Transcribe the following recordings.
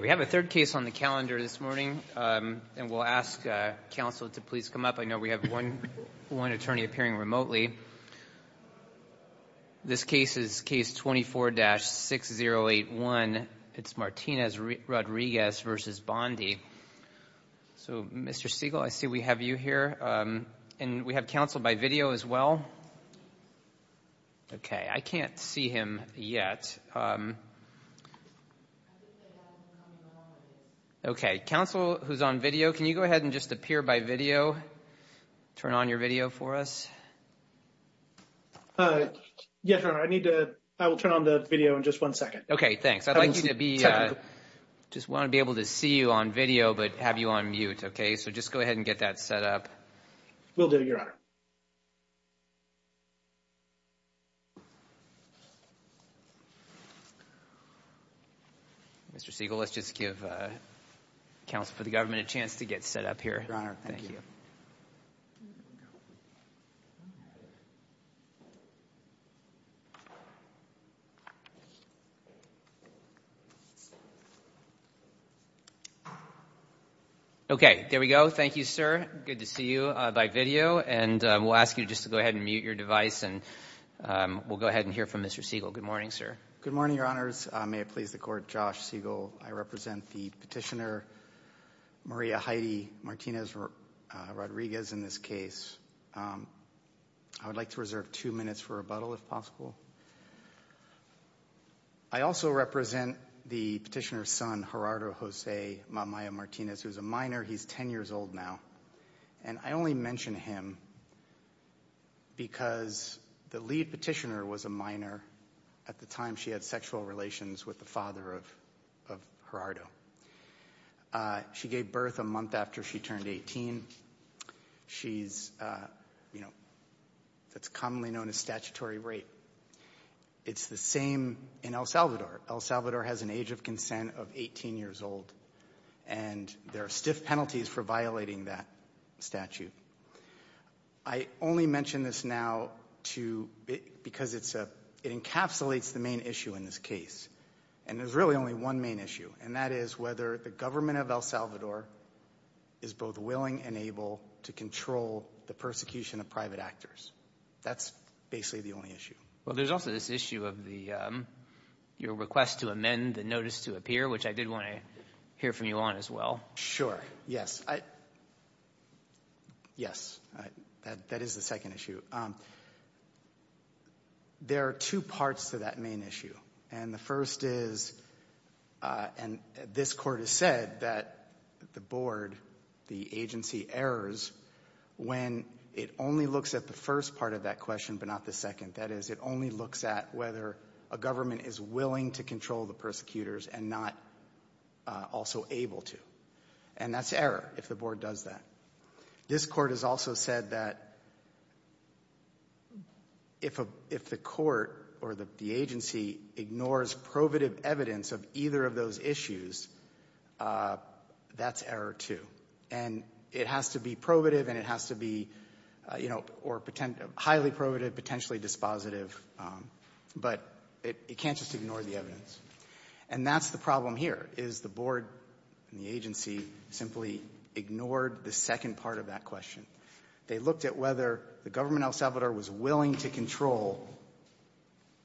We have a third case on the calendar this morning, and we'll ask counsel to please come up. I know we have one attorney appearing remotely. This case is case 24-6081. It's Martinez-Rodriguez v. Bondi. So, Mr. Siegel, I see we have you here, and we have counsel by video as well. Okay, I can't see him yet. Okay, counsel who's on video, can you go ahead and just appear by video, turn on your video for us? Yes, I will turn on the video in just one second. Okay, thanks. I just want to be able to see you on video but have you on mute. Okay, so just go ahead and get that set up. We'll do it, Your Honor. Mr. Siegel, let's just give counsel for the government a chance to get set up here. Your Honor, thank you. Okay, there we go. Thank you, sir. Good to see you by video, and we'll ask you just to go ahead and mute your device, and we'll go ahead and hear from Mr. Siegel. Good morning, sir. Good morning, Your Honors. May it please the Court, Josh Siegel. I represent the petitioner Maria Heidi Martinez Rodriguez in this case. I would like to reserve two minutes for rebuttal if possible. I also represent the petitioner's son, Gerardo Jose Mamaya Martinez, who's a minor. He's 10 years old now, and I only mention him because the lead petitioner was a minor. At the time, she had sexual relations with the father of Gerardo. She gave birth a month after she turned 18. She's, you know, that's commonly known as statutory rape. It's the same in El Salvador. El Salvador has an age of consent of 18 years old, and there are stiff penalties for violating that statute. I only mention this now because it encapsulates the main issue in this case, and there's really only one main issue, and that is whether the government of El Salvador is both willing and able to control the persecution of private actors. That's basically the only issue. Well, there's also this issue of your request to amend the notice to appear, which I did want to hear from you on as well. Sure, yes. Yes, that is the second issue. There are two parts to that main issue, and the first is, and this court has said that the board, the agency errors when it only looks at the first part of that question but not the second, that is, it only looks at whether a government is willing to control the persecutors and not also able to, and that's error if the board does that. This court has also said that if the court or the agency ignores probative evidence of either of those issues, that's error too, and it has to be probative and it has to be, you know, or highly probative, potentially dispositive, but it can't just ignore the evidence, and that's the problem here is the board and the agency simply ignored the second part of that question. They looked at whether the government El Salvador was willing to control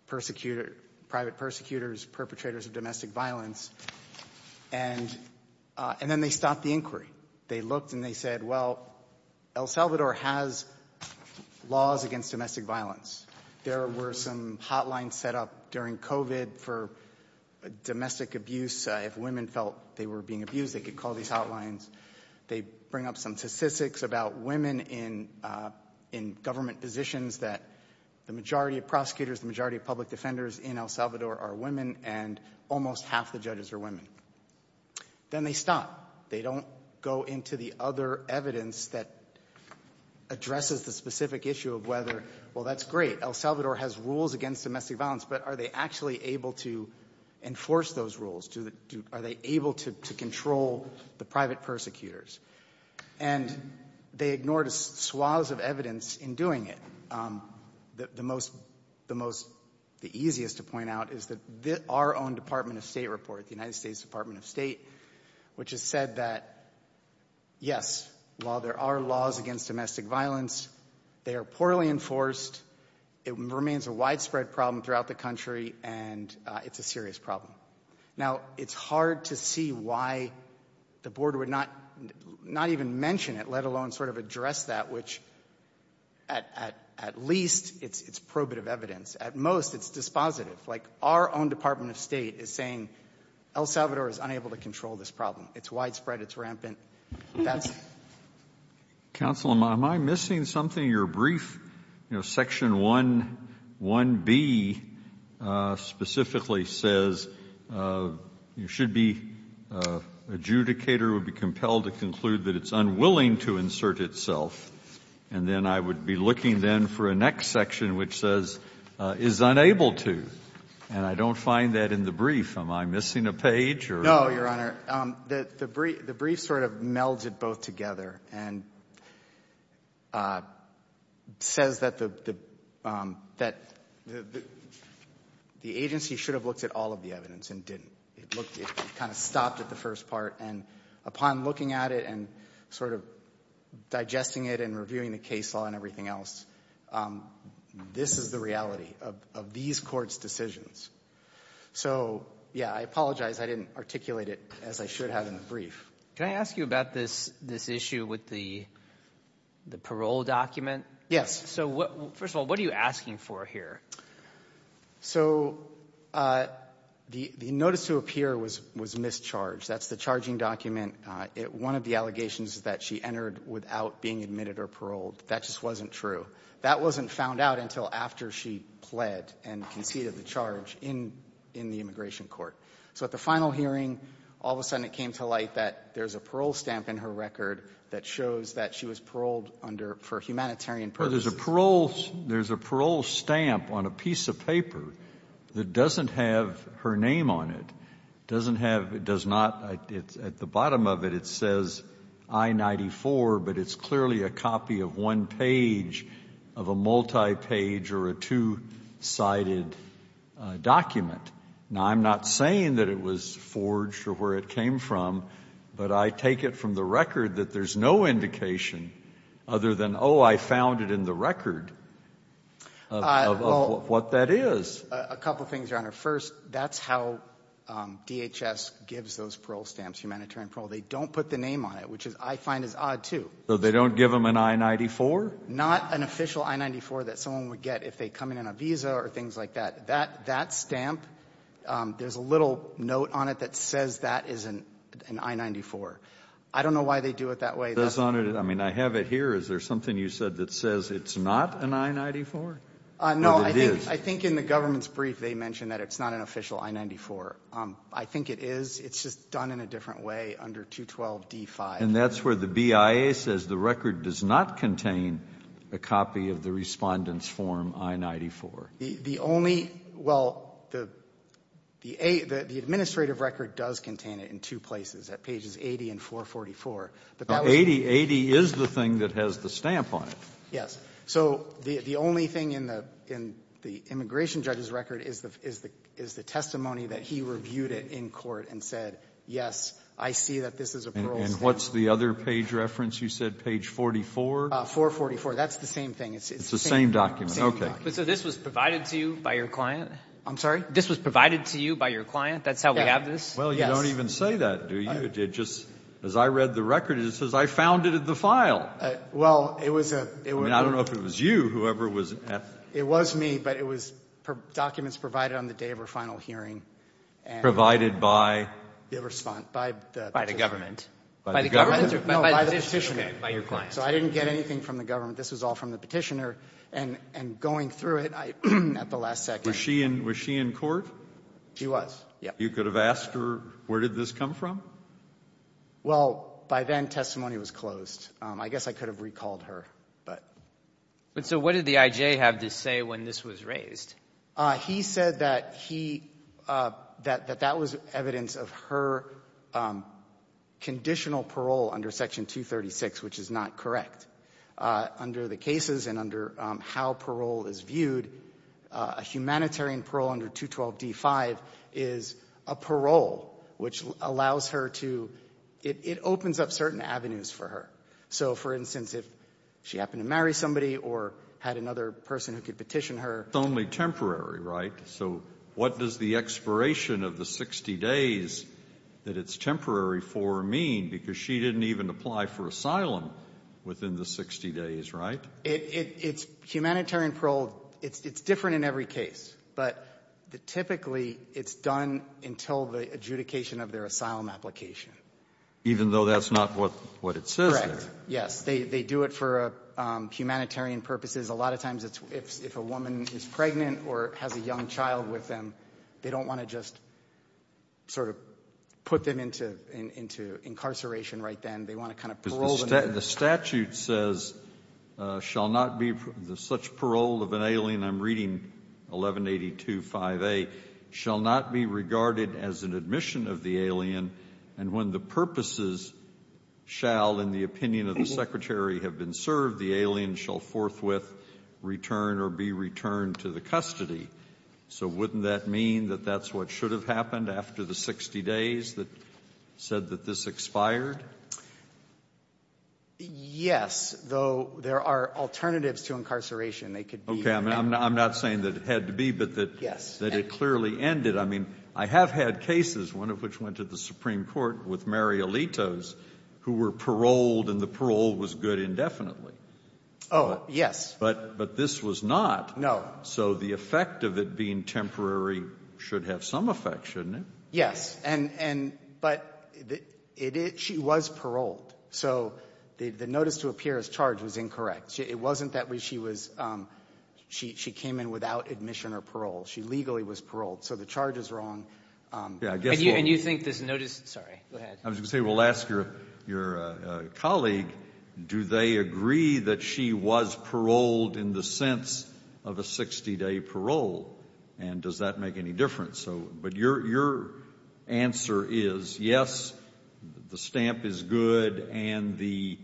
persecutor, private persecutors, perpetrators of domestic violence, and then they stopped the inquiry. They looked and they said, well, El Salvador has laws against domestic violence. There were some hotlines set up during COVID for domestic abuse. If women felt they were being abused, they could call these hotlines. They bring up some statistics about women in government positions that the majority of prosecutors, the majority of public defenders in El Salvador are women, and almost half the judges are women. Then they stop. They don't go into the other evidence that addresses the specific issue of whether, well, that's great. El Salvador has rules against domestic violence, but are they actually able to enforce those rules? Are they able to control the private persecutors? And they ignored swaths of evidence in doing it. The most, the easiest to point out is that our own Department of State report, the United States Department of State, which has said that, yes, while there are laws against domestic violence, they are poorly enforced. It remains a widespread problem throughout the country, and it's a serious problem. Now, it's hard to see why the board would not even mention it, let alone sort of address that, which at least it's probative evidence. At most, it's dispositive. Like our own Department of State is saying El Salvador is unable to control this problem. It's widespread. It's rampant. That's it. Counsel, am I missing something in your brief? Section 1B specifically says you should be, adjudicator would be compelled to conclude that it's unwilling to insert itself. And then I would be looking then for a next section which says is unable to. And I don't find that in the brief. Am I missing a page? No, Your Honor. The brief sort of melds it both together and says that the agency should have looked at all of the evidence and didn't. It kind of stopped at the first part. And upon looking at it and sort of digesting it and reviewing the case law and everything else, this is the reality of these courts' decisions. So, yeah, I apologize I didn't articulate it as I should have in the brief. Can I ask you about this issue with the parole document? Yes. So, first of all, what are you asking for here? So, the notice to appear was mischarged. That's the charging document. One of the allegations is that she entered without being admitted or paroled. That just wasn't true. That wasn't found out until after she pled and conceded the charge in the immigration court. So at the final hearing, all of a sudden it came to light that there's a parole stamp in her record that shows that she was paroled for humanitarian purposes. Well, there's a parole stamp on a piece of paper that doesn't have her name on it, doesn't have, does not, at the bottom of it, it says I-94, but it's clearly a copy of one page of a multi-page or a two-sided document. Now, I'm not saying that it was forged or where it came from, but I take it from the record that there's no indication other than, oh, I found it in the record of what that is. Just a couple of things, Your Honor. First, that's how DHS gives those parole stamps, humanitarian parole. They don't put the name on it, which I find is odd, too. So they don't give them an I-94? Not an official I-94 that someone would get if they come in on a visa or things like that. That stamp, there's a little note on it that says that is an I-94. I don't know why they do it that way. I mean, I have it here. Is there something you said that says it's not an I-94? No, I think in the government's brief they mentioned that it's not an official I-94. I think it is. It's just done in a different way under 212 D-5. And that's where the BIA says the record does not contain a copy of the Respondent's Form I-94. The only – well, the administrative record does contain it in two places, at pages 80 and 444. 80 is the thing that has the stamp on it. Yes. So the only thing in the immigration judge's record is the testimony that he reviewed it in court and said, yes, I see that this is a parole stamp. And what's the other page reference you said, page 44? 444. That's the same thing. It's the same document. It's the same document. But so this was provided to you by your client? I'm sorry? This was provided to you by your client? That's how we have this? Yes. Well, you don't even say that, do you? It just – as I read the record, it says I found it in the file. Well, it was a – it was a – I mean, I don't know if it was you, whoever was asking. It was me, but it was documents provided on the day of her final hearing. Provided by? The Respondent. By the petitioner. By the government. By the government? No, by the petitioner. By your client. So I didn't get anything from the government. This was all from the petitioner. And going through it, at the last second – Was she in court? She was, yes. You could have asked her, where did this come from? Well, by then, testimony was closed. I guess I could have recalled her, but. So what did the IJ have to say when this was raised? He said that he – that that was evidence of her conditional parole under Section 236, which is not correct. Under the cases and under how parole is viewed, a humanitarian parole under 212d-5 is a parole which allows her to – it opens up certain avenues for her. So, for instance, if she happened to marry somebody or had another person who could petition her – It's only temporary, right? So what does the expiration of the 60 days that it's temporary for mean? Because she didn't even apply for asylum within the 60 days, right? It's humanitarian parole. It's different in every case. But typically, it's done until the adjudication of their asylum application. Even though that's not what it says there? Yes. They do it for humanitarian purposes. A lot of times, if a woman is pregnant or has a young child with them, they don't want to just sort of put them into incarceration right then. They want to kind of parole them. The statute says, such parole of an alien – I'm reading 1182-5A – shall not be regarded as an admission of the alien, and when the purposes shall, in the opinion of the secretary, have been served, the alien shall forthwith return or be returned to the custody. So wouldn't that mean that that's what should have happened after the 60 days that said that this expired? Yes, though there are alternatives to incarceration. I'm not saying that it had to be, but that it clearly ended. I mean, I have had cases, one of which went to the Supreme Court with Mary Alitos, who were paroled, and the parole was good indefinitely. Oh, yes. But this was not. No. So the effect of it being temporary should have some effect, shouldn't it? Yes. But she was paroled. So the notice to appear as charged was incorrect. It wasn't that she was – she came in without admission or parole. She legally was paroled. So the charge is wrong. And you think this notice – sorry, go ahead. I was going to say, well, ask your colleague, do they agree that she was paroled in the sense of a 60-day parole, and does that make any difference? But your answer is yes, the stamp is good, and the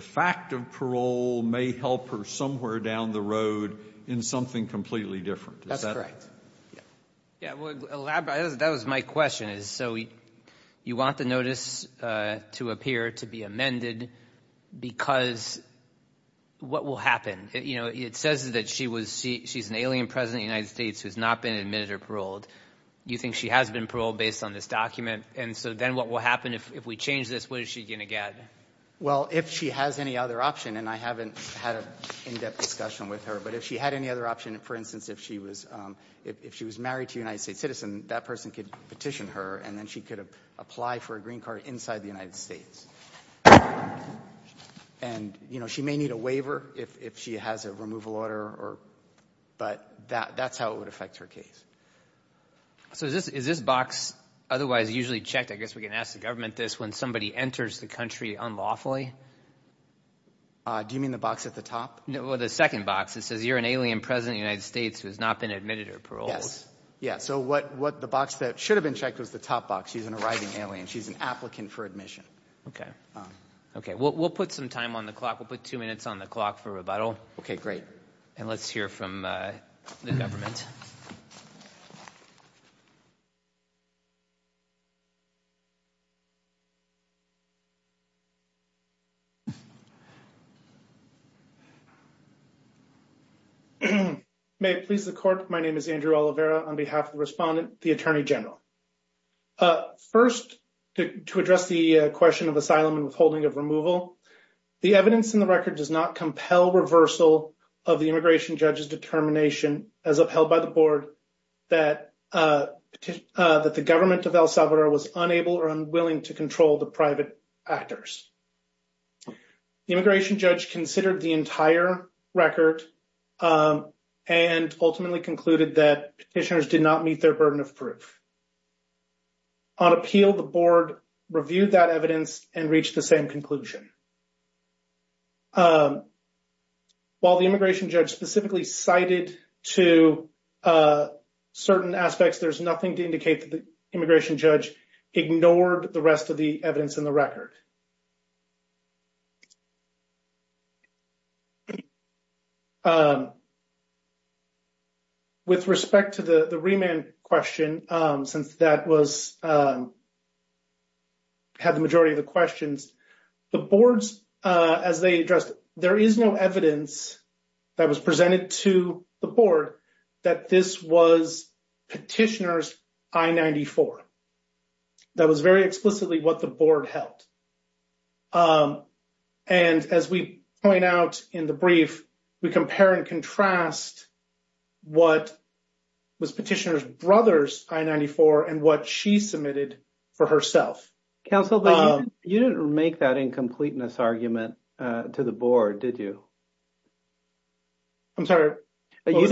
fact of parole may help her somewhere down the road in something completely different. That's correct. That was my question. So you want the notice to appear to be amended because what will happen? You know, it says that she's an alien president of the United States who has not been admitted or paroled. Do you think she has been paroled based on this document? And so then what will happen if we change this? What is she going to get? Well, if she has any other option, and I haven't had an in-depth discussion with her, but if she had any other option, for instance, if she was married to a United States citizen, that person could petition her, and then she could apply for a green card inside the United States. And, you know, she may need a waiver if she has a removal order, but that's how it would affect her case. So is this box otherwise usually checked, I guess we can ask the government this, when somebody enters the country unlawfully? Do you mean the box at the top? No, the second box. It says you're an alien president of the United States who has not been admitted or paroled. Yes. Yeah, so what the box that should have been checked was the top box. She's an arriving alien. She's an applicant for admission. Okay. We'll put some time on the clock. We'll put two minutes on the clock for rebuttal. Okay, great. And let's hear from the government. May it please the court, my name is Andrew Oliveira. On behalf of the respondent, the Attorney General. First, to address the question of asylum and withholding of removal, the evidence in the record does not compel reversal of the immigration judge's determination, as upheld by the board, that the government of El Salvador was unable or unwilling to control the private actors. The immigration judge considered the entire record and ultimately concluded that petitioners did not meet their burden of proof. On appeal, the board reviewed that evidence and reached the same conclusion. While the immigration judge specifically cited to certain aspects, there's nothing to indicate that the immigration judge ignored the rest of the evidence in the record. With respect to the remand question, since that was, had the majority of the questions, the boards, as they addressed it, there is no evidence that was presented to the board that this was petitioners I-94. That was very explicitly what the board held. And as we point out in the brief, we compare and contrast what was petitioners' brothers I-94 and what she submitted for herself. Counsel, you didn't make that incompleteness argument to the board, did you? I'm sorry? You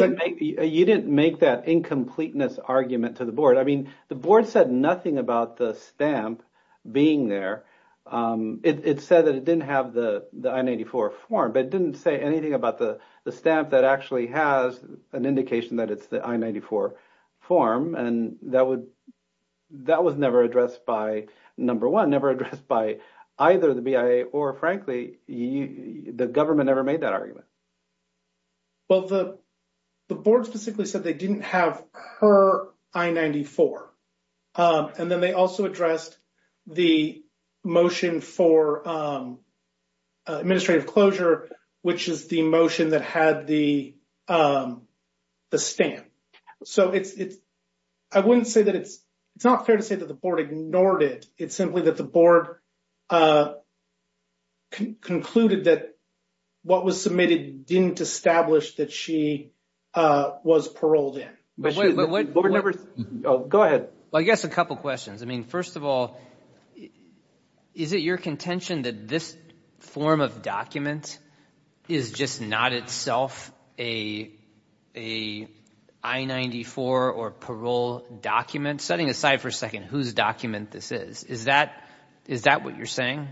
didn't make that incompleteness argument to the board. I mean, the board said nothing about the stamp being there. It said that it didn't have the I-94 form, but it didn't say anything about the stamp that actually has an indication that it's the I-94 form. And that was never addressed by, number one, never addressed by either the BIA or, frankly, the government never made that argument. Well, the board specifically said they didn't have her I-94. And then they also addressed the motion for administrative closure, which is the motion that had the stamp. So it's – I wouldn't say that it's – it's not fair to say that the board ignored it. It's simply that the board concluded that what was submitted didn't establish that she was paroled in. Go ahead. Well, I guess a couple questions. I mean, first of all, is it your contention that this form of document is just not itself a I-94 or parole document? Setting aside for a second whose document this is, is that – is that what you're saying?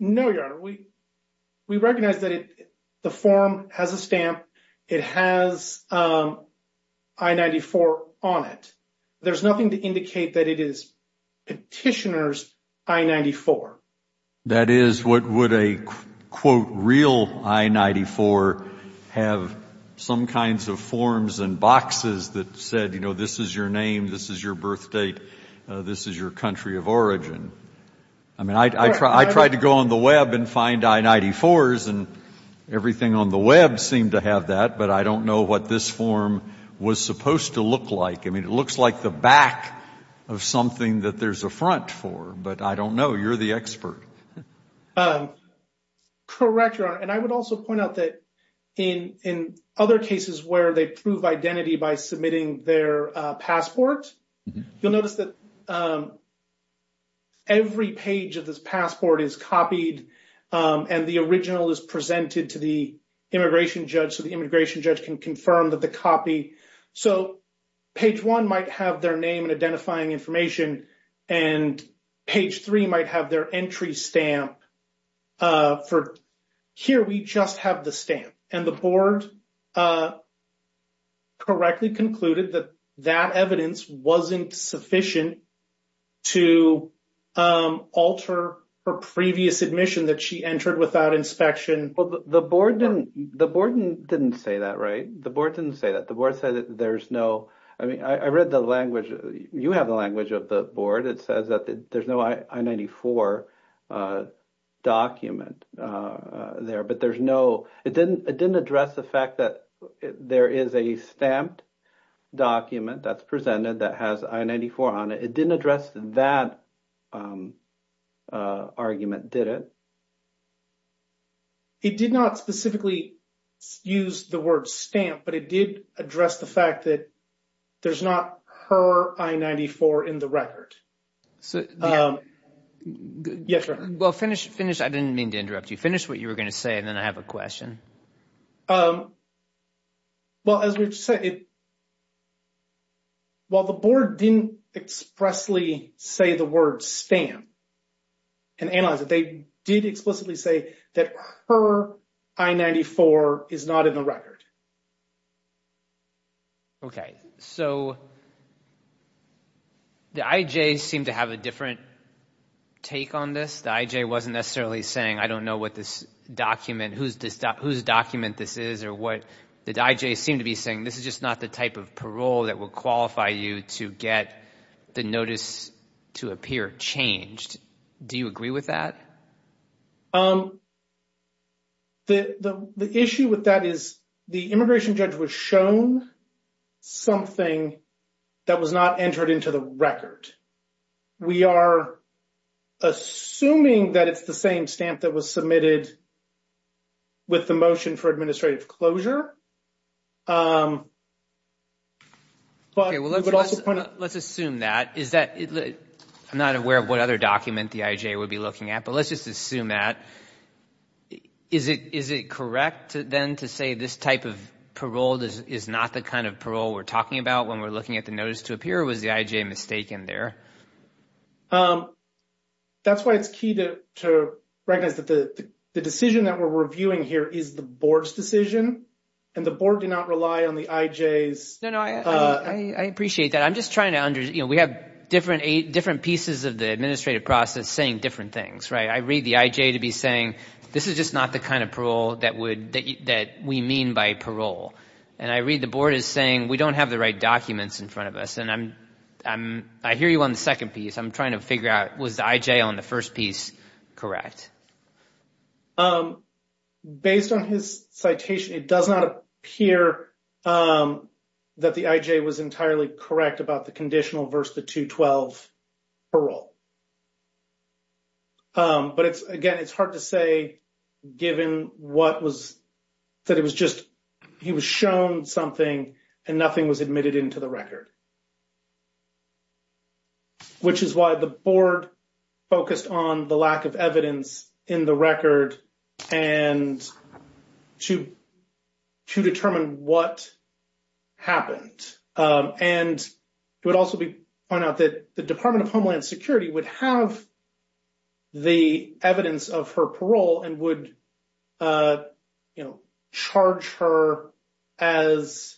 No, Your Honor. We recognize that the form has a stamp. It has I-94 on it. There's nothing to indicate that it is Petitioner's I-94. That is, what would a, quote, real I-94 have some kinds of forms and boxes that said, you know, this is your name, this is your birth date, this is your country of origin? I mean, I tried to go on the web and find I-94s, and everything on the web seemed to have that. But I don't know what this form was supposed to look like. I mean, it looks like the back of something that there's a front for, but I don't know. You're the expert. Correct, Your Honor. And I would also point out that in other cases where they prove identity by submitting their passport, you'll notice that every page of this passport is copied, and the original is presented to the immigration judge, so the immigration judge can confirm that the copy – page one might have their name and identifying information, and page three might have their entry stamp for, here we just have the stamp. And the board correctly concluded that that evidence wasn't sufficient to alter her previous admission that she entered without inspection. Well, the board didn't say that, right? The board didn't say that. The board said that there's no – I mean, I read the language. You have the language of the board. It says that there's no I-94 document there. But there's no – it didn't address the fact that there is a stamped document that's presented that has I-94 on it. It didn't address that argument, did it? It did not specifically use the word stamp, but it did address the fact that there's not her I-94 in the record. Yes, Your Honor. Well, finish – I didn't mean to interrupt you. Finish what you were going to say, and then I have a question. Well, as we've said, while the board didn't expressly say the word stamp and analyze it, they did explicitly say that her I-94 is not in the record. Okay. So the IJ seemed to have a different take on this. The IJ wasn't necessarily saying, I don't know what this document – whose document this is or what – the IJ seemed to be saying, this is just not the type of parole that would qualify you to get the notice to appear changed. Do you agree with that? The issue with that is the immigration judge was shown something that was not entered into the record. We are assuming that it's the same stamp that was submitted with the motion for administrative closure. Okay, well, let's assume that. I'm not aware of what other document the IJ would be looking at, but let's just assume that. Is it correct then to say this type of parole is not the kind of parole we're talking about when we're looking at the notice to appear, or was the IJ mistaken there? That's why it's key to recognize that the decision that we're reviewing here is the board's decision, and the board did not rely on the IJ's – No, no, I appreciate that. I'm just trying to – we have different pieces of the administrative process saying different things, right? I read the IJ to be saying, this is just not the kind of parole that we mean by parole. And I read the board as saying, we don't have the right documents in front of us. And I hear you on the second piece. I'm trying to figure out, was the IJ on the first piece correct? Based on his citation, it does not appear that the IJ was entirely correct about the conditional versus the 212 parole. But it's – again, it's hard to say given what was – that it was just – he was shown something and nothing was admitted into the record. Which is why the board focused on the lack of evidence in the record and to determine what happened. And it would also be pointed out that the Department of Homeland Security would have the evidence of her parole and would charge her as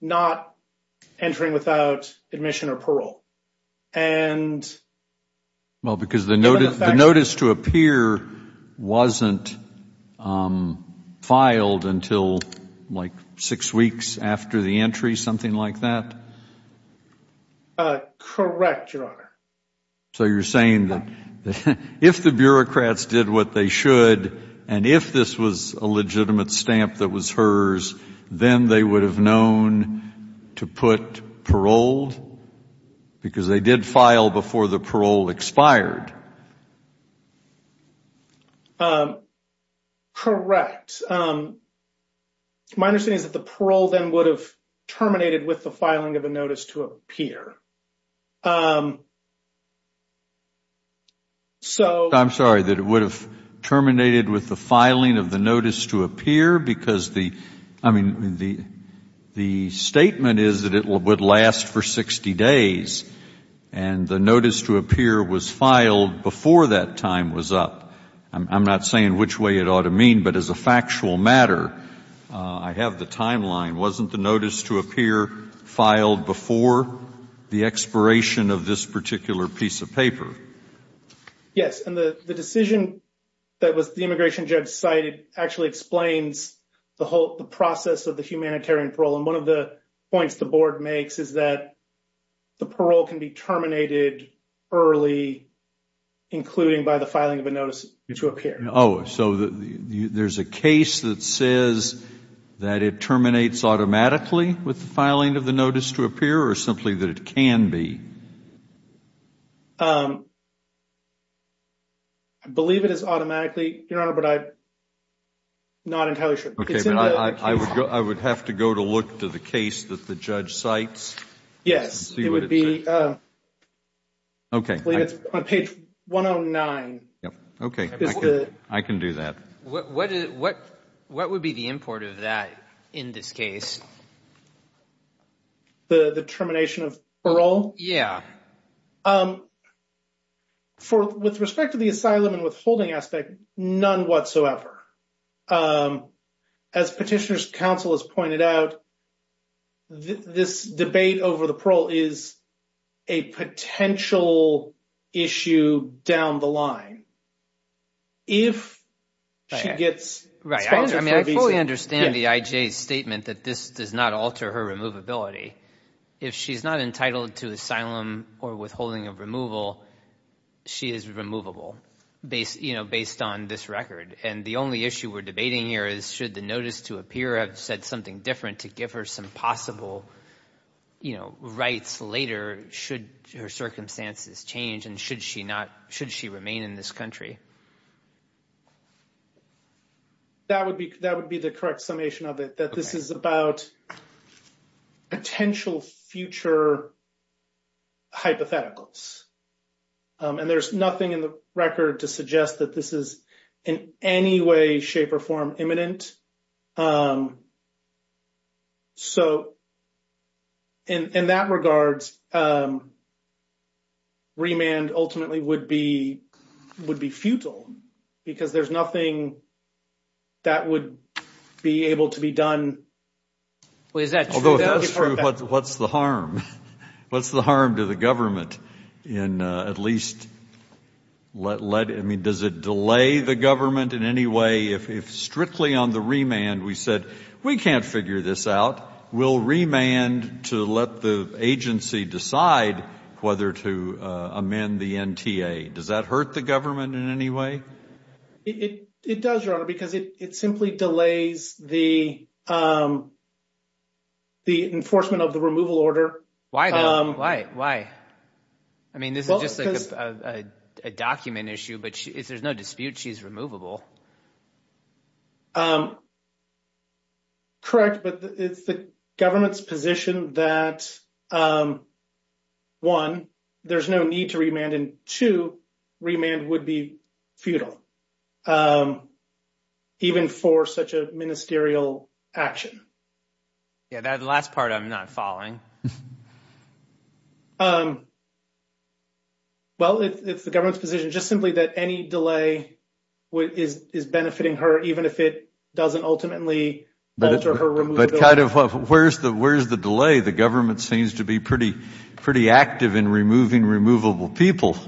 not entering without admission or parole. Well, because the notice to appear wasn't filed until like six weeks after the entry, something like that? Correct, Your Honor. So you're saying that if the bureaucrats did what they should and if this was a legitimate stamp that was hers, then they would have known to put paroled? Because they did file before the parole expired. Correct. My understanding is that the parole then would have terminated with the filing of the notice to appear. I'm sorry. That it would have terminated with the filing of the notice to appear? Because the – I mean, the statement is that it would last for 60 days. And the notice to appear was filed before that time was up. I'm not saying which way it ought to mean, but as a factual matter, I have the timeline. Wasn't the notice to appear filed before the expiration of this particular piece of paper? Yes, and the decision that was the immigration judge cited actually explains the whole process of the humanitarian parole. And one of the points the board makes is that the parole can be terminated early, including by the filing of a notice to appear. Oh, so there's a case that says that it terminates automatically with the filing of the notice to appear or simply that it can be? I believe it is automatically, Your Honor, but I'm not entirely sure. Okay, but I would have to go to look to the case that the judge cites. Yes, it would be on page 109. Okay, I can do that. What would be the import of that in this case? The termination of parole? Yeah. With respect to the asylum and withholding aspect, none whatsoever. As Petitioner's Counsel has pointed out, this debate over the parole is a potential issue down the line. If she gets... Right, I fully understand the IJ's statement that this does not alter her removability. If she's not entitled to asylum or withholding of removal, she is removable based on this record. And the only issue we're debating here is should the notice to appear have said something different to give her some possible rights later? Should her circumstances change and should she remain in this country? That would be the correct summation of it, that this is about potential future hypotheticals. And there's nothing in the record to suggest that this is in any way, shape, or form imminent. So in that regard, remand ultimately would be futile because there's nothing that would be able to be done. Although if that's true, what's the harm? What's the harm to the government in at least... I mean, does it delay the government in any way if strictly on the remand we said, we can't figure this out, we'll remand to let the agency decide whether to amend the NTA? Does that hurt the government in any way? It does, Your Honor, because it simply delays the enforcement of the removal order. Why though? Why? Why? I mean, this is just a document issue, but if there's no dispute, she's removable. Correct, but it's the government's position that, one, there's no need to remand, and two, remand would be futile, even for such a ministerial action. Yeah, that last part I'm not following. Well, it's the government's position just simply that any delay is benefiting her, even if it doesn't ultimately alter her removability. But kind of where's the delay? The government seems to be pretty active in removing removable people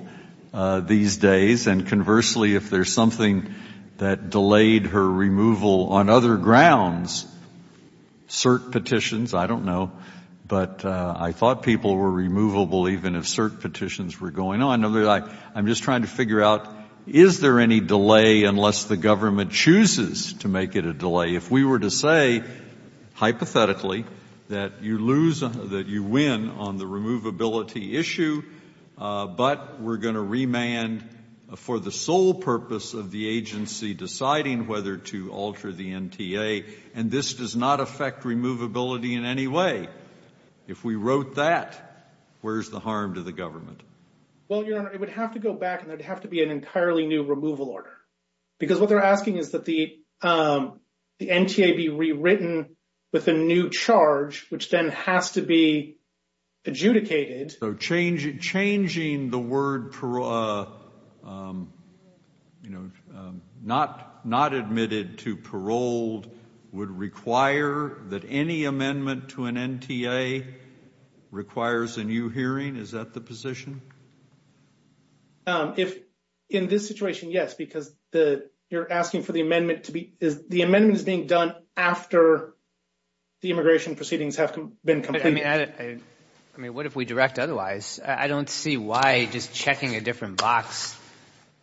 these days, and conversely, if there's something that delayed her removal on other grounds, cert petitions, I don't know, but I thought people were removable even if cert petitions were going on. I'm just trying to figure out, is there any delay unless the government chooses to make it a delay? If we were to say, hypothetically, that you win on the removability issue, but we're going to remand for the sole purpose of the agency deciding whether to alter the NTA, and this does not affect removability in any way, if we wrote that, where's the harm to the government? Well, Your Honor, it would have to go back, and there would have to be an entirely new removal order. Because what they're asking is that the NTA be rewritten with a new charge, which then has to be adjudicated. So changing the word, you know, not admitted to paroled would require that any amendment to an NTA requires a new hearing? Is that the position? In this situation, yes, because you're asking for the amendment to be – the amendment is being done after the immigration proceedings have been completed. I mean, what if we direct otherwise? I don't see why just checking a different box –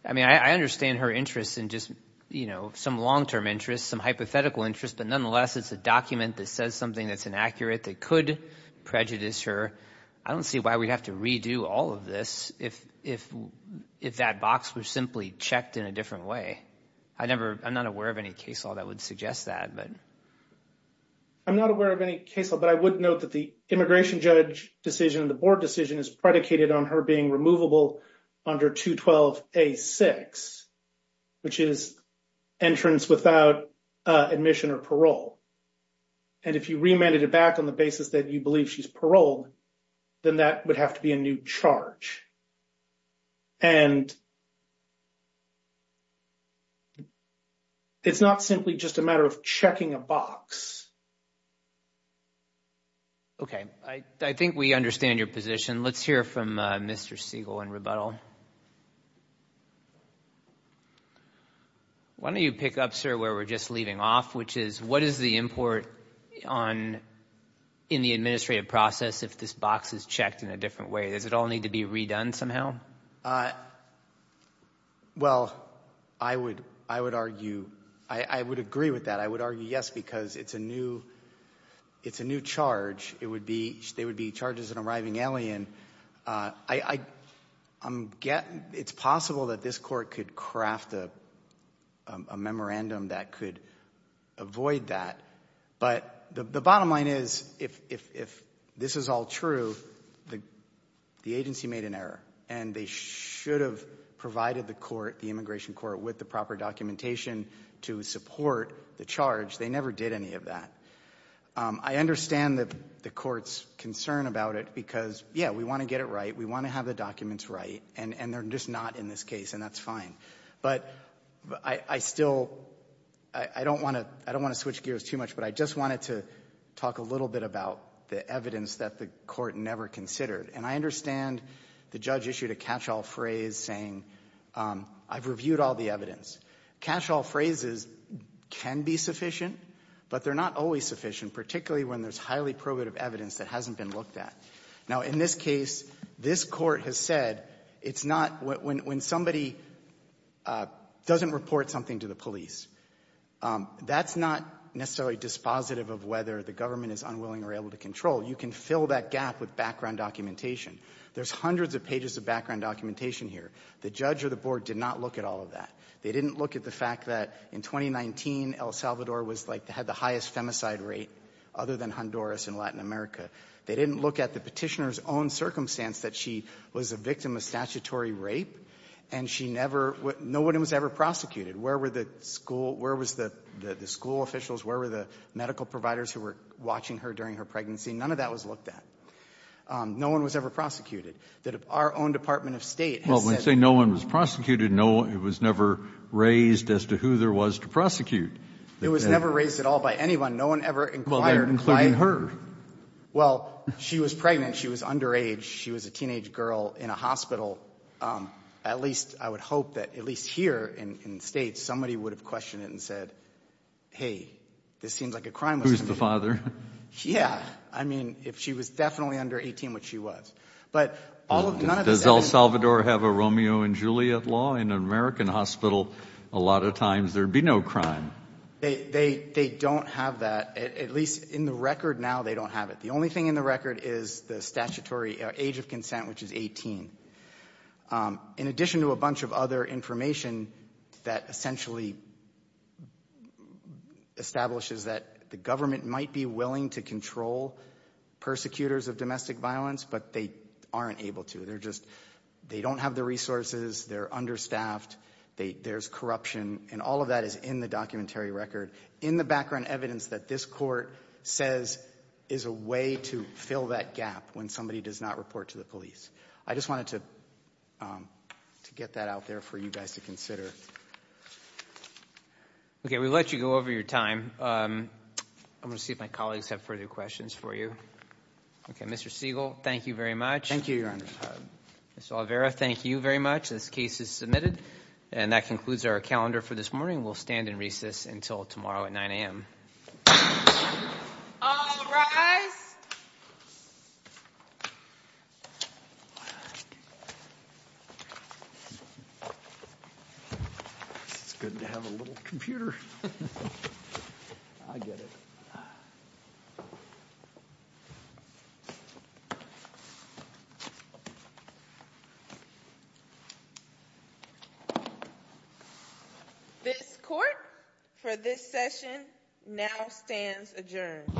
I mean, I understand her interest in just, you know, some long-term interest, some hypothetical interest, but nonetheless it's a document that says something that's inaccurate that could prejudice her. I don't see why we'd have to redo all of this if that box were simply checked in a different way. I never – I'm not aware of any case law that would suggest that. I'm not aware of any case law, but I would note that the immigration judge decision, the board decision is predicated on her being removable under 212A6, which is entrance without admission or parole. And if you remanded it back on the basis that you believe she's paroled, then that would have to be a new charge. And it's not simply just a matter of checking a box. Okay. I think we understand your position. Let's hear from Mr. Siegel in rebuttal. Why don't you pick up, sir, where we're just leaving off, which is what is the import on – in the administrative process if this box is checked in a different way? Does it all need to be redone somehow? Well, I would argue – I would agree with that. I would argue yes because it's a new charge. It would be – there would be charges of an arriving alien. I'm – it's possible that this court could craft a memorandum that could avoid that. But the bottom line is if this is all true, the agency made an error and they should have provided the court, the immigration court, with the proper documentation to support the charge. They never did any of that. I understand the court's concern about it because, yeah, we want to get it right. We want to have the documents right, and they're just not in this case, and that's fine. But I still – I don't want to – I don't want to switch gears too much, but I just wanted to talk a little bit about the evidence that the court never considered. And I understand the judge issued a catch-all phrase saying I've reviewed all the evidence. Catch-all phrases can be sufficient, but they're not always sufficient, particularly when there's highly probative evidence that hasn't been looked at. Now, in this case, this court has said it's not – when somebody doesn't report something to the police, that's not necessarily dispositive of whether the government is unwilling or able to control. You can fill that gap with background documentation. There's hundreds of pages of background documentation here. The judge or the board did not look at all of that. They didn't look at the fact that in 2019, El Salvador was like – had the highest femicide rate other than Honduras in Latin America. They didn't look at the Petitioner's own circumstance, that she was a victim of statutory rape, and she never – no one was ever prosecuted. Where were the school – where was the school officials, where were the medical providers who were watching her during her pregnancy? None of that was looked at. No one was ever prosecuted. That our own Department of State has said – Well, when you say no one was prosecuted, no – it was never raised as to who there was to prosecute. It was never raised at all by anyone. No one ever inquired why – Well, she was pregnant. She was underage. She was a teenage girl in a hospital. At least, I would hope that at least here in the States, somebody would have questioned it and said, hey, this seems like a crime. Who's the father? Yeah. I mean, if she was definitely under 18, which she was. But all of – none of this – Does El Salvador have a Romeo and Juliet law? In an American hospital, a lot of times, there'd be no crime. They don't have that. At least in the record now, they don't have it. The only thing in the record is the statutory age of consent, which is 18. In addition to a bunch of other information that essentially establishes that the government might be willing to control persecutors of domestic violence, but they aren't able to. They're just – they don't have the resources. They're understaffed. There's corruption. And all of that is in the documentary record, in the background evidence that this court says is a way to fill that gap when somebody does not report to the police. I just wanted to get that out there for you guys to consider. Okay. We let you go over your time. I'm going to see if my colleagues have further questions for you. Okay. Mr. Siegel, thank you very much. Thank you, Your Honor. Ms. Oliveira, thank you very much. This case is submitted. And that concludes our calendar for this morning. We'll stand and recess until tomorrow at 9 a.m. All rise. It's good to have a little computer. I get it. This court for this session now stands adjourned. Thank you.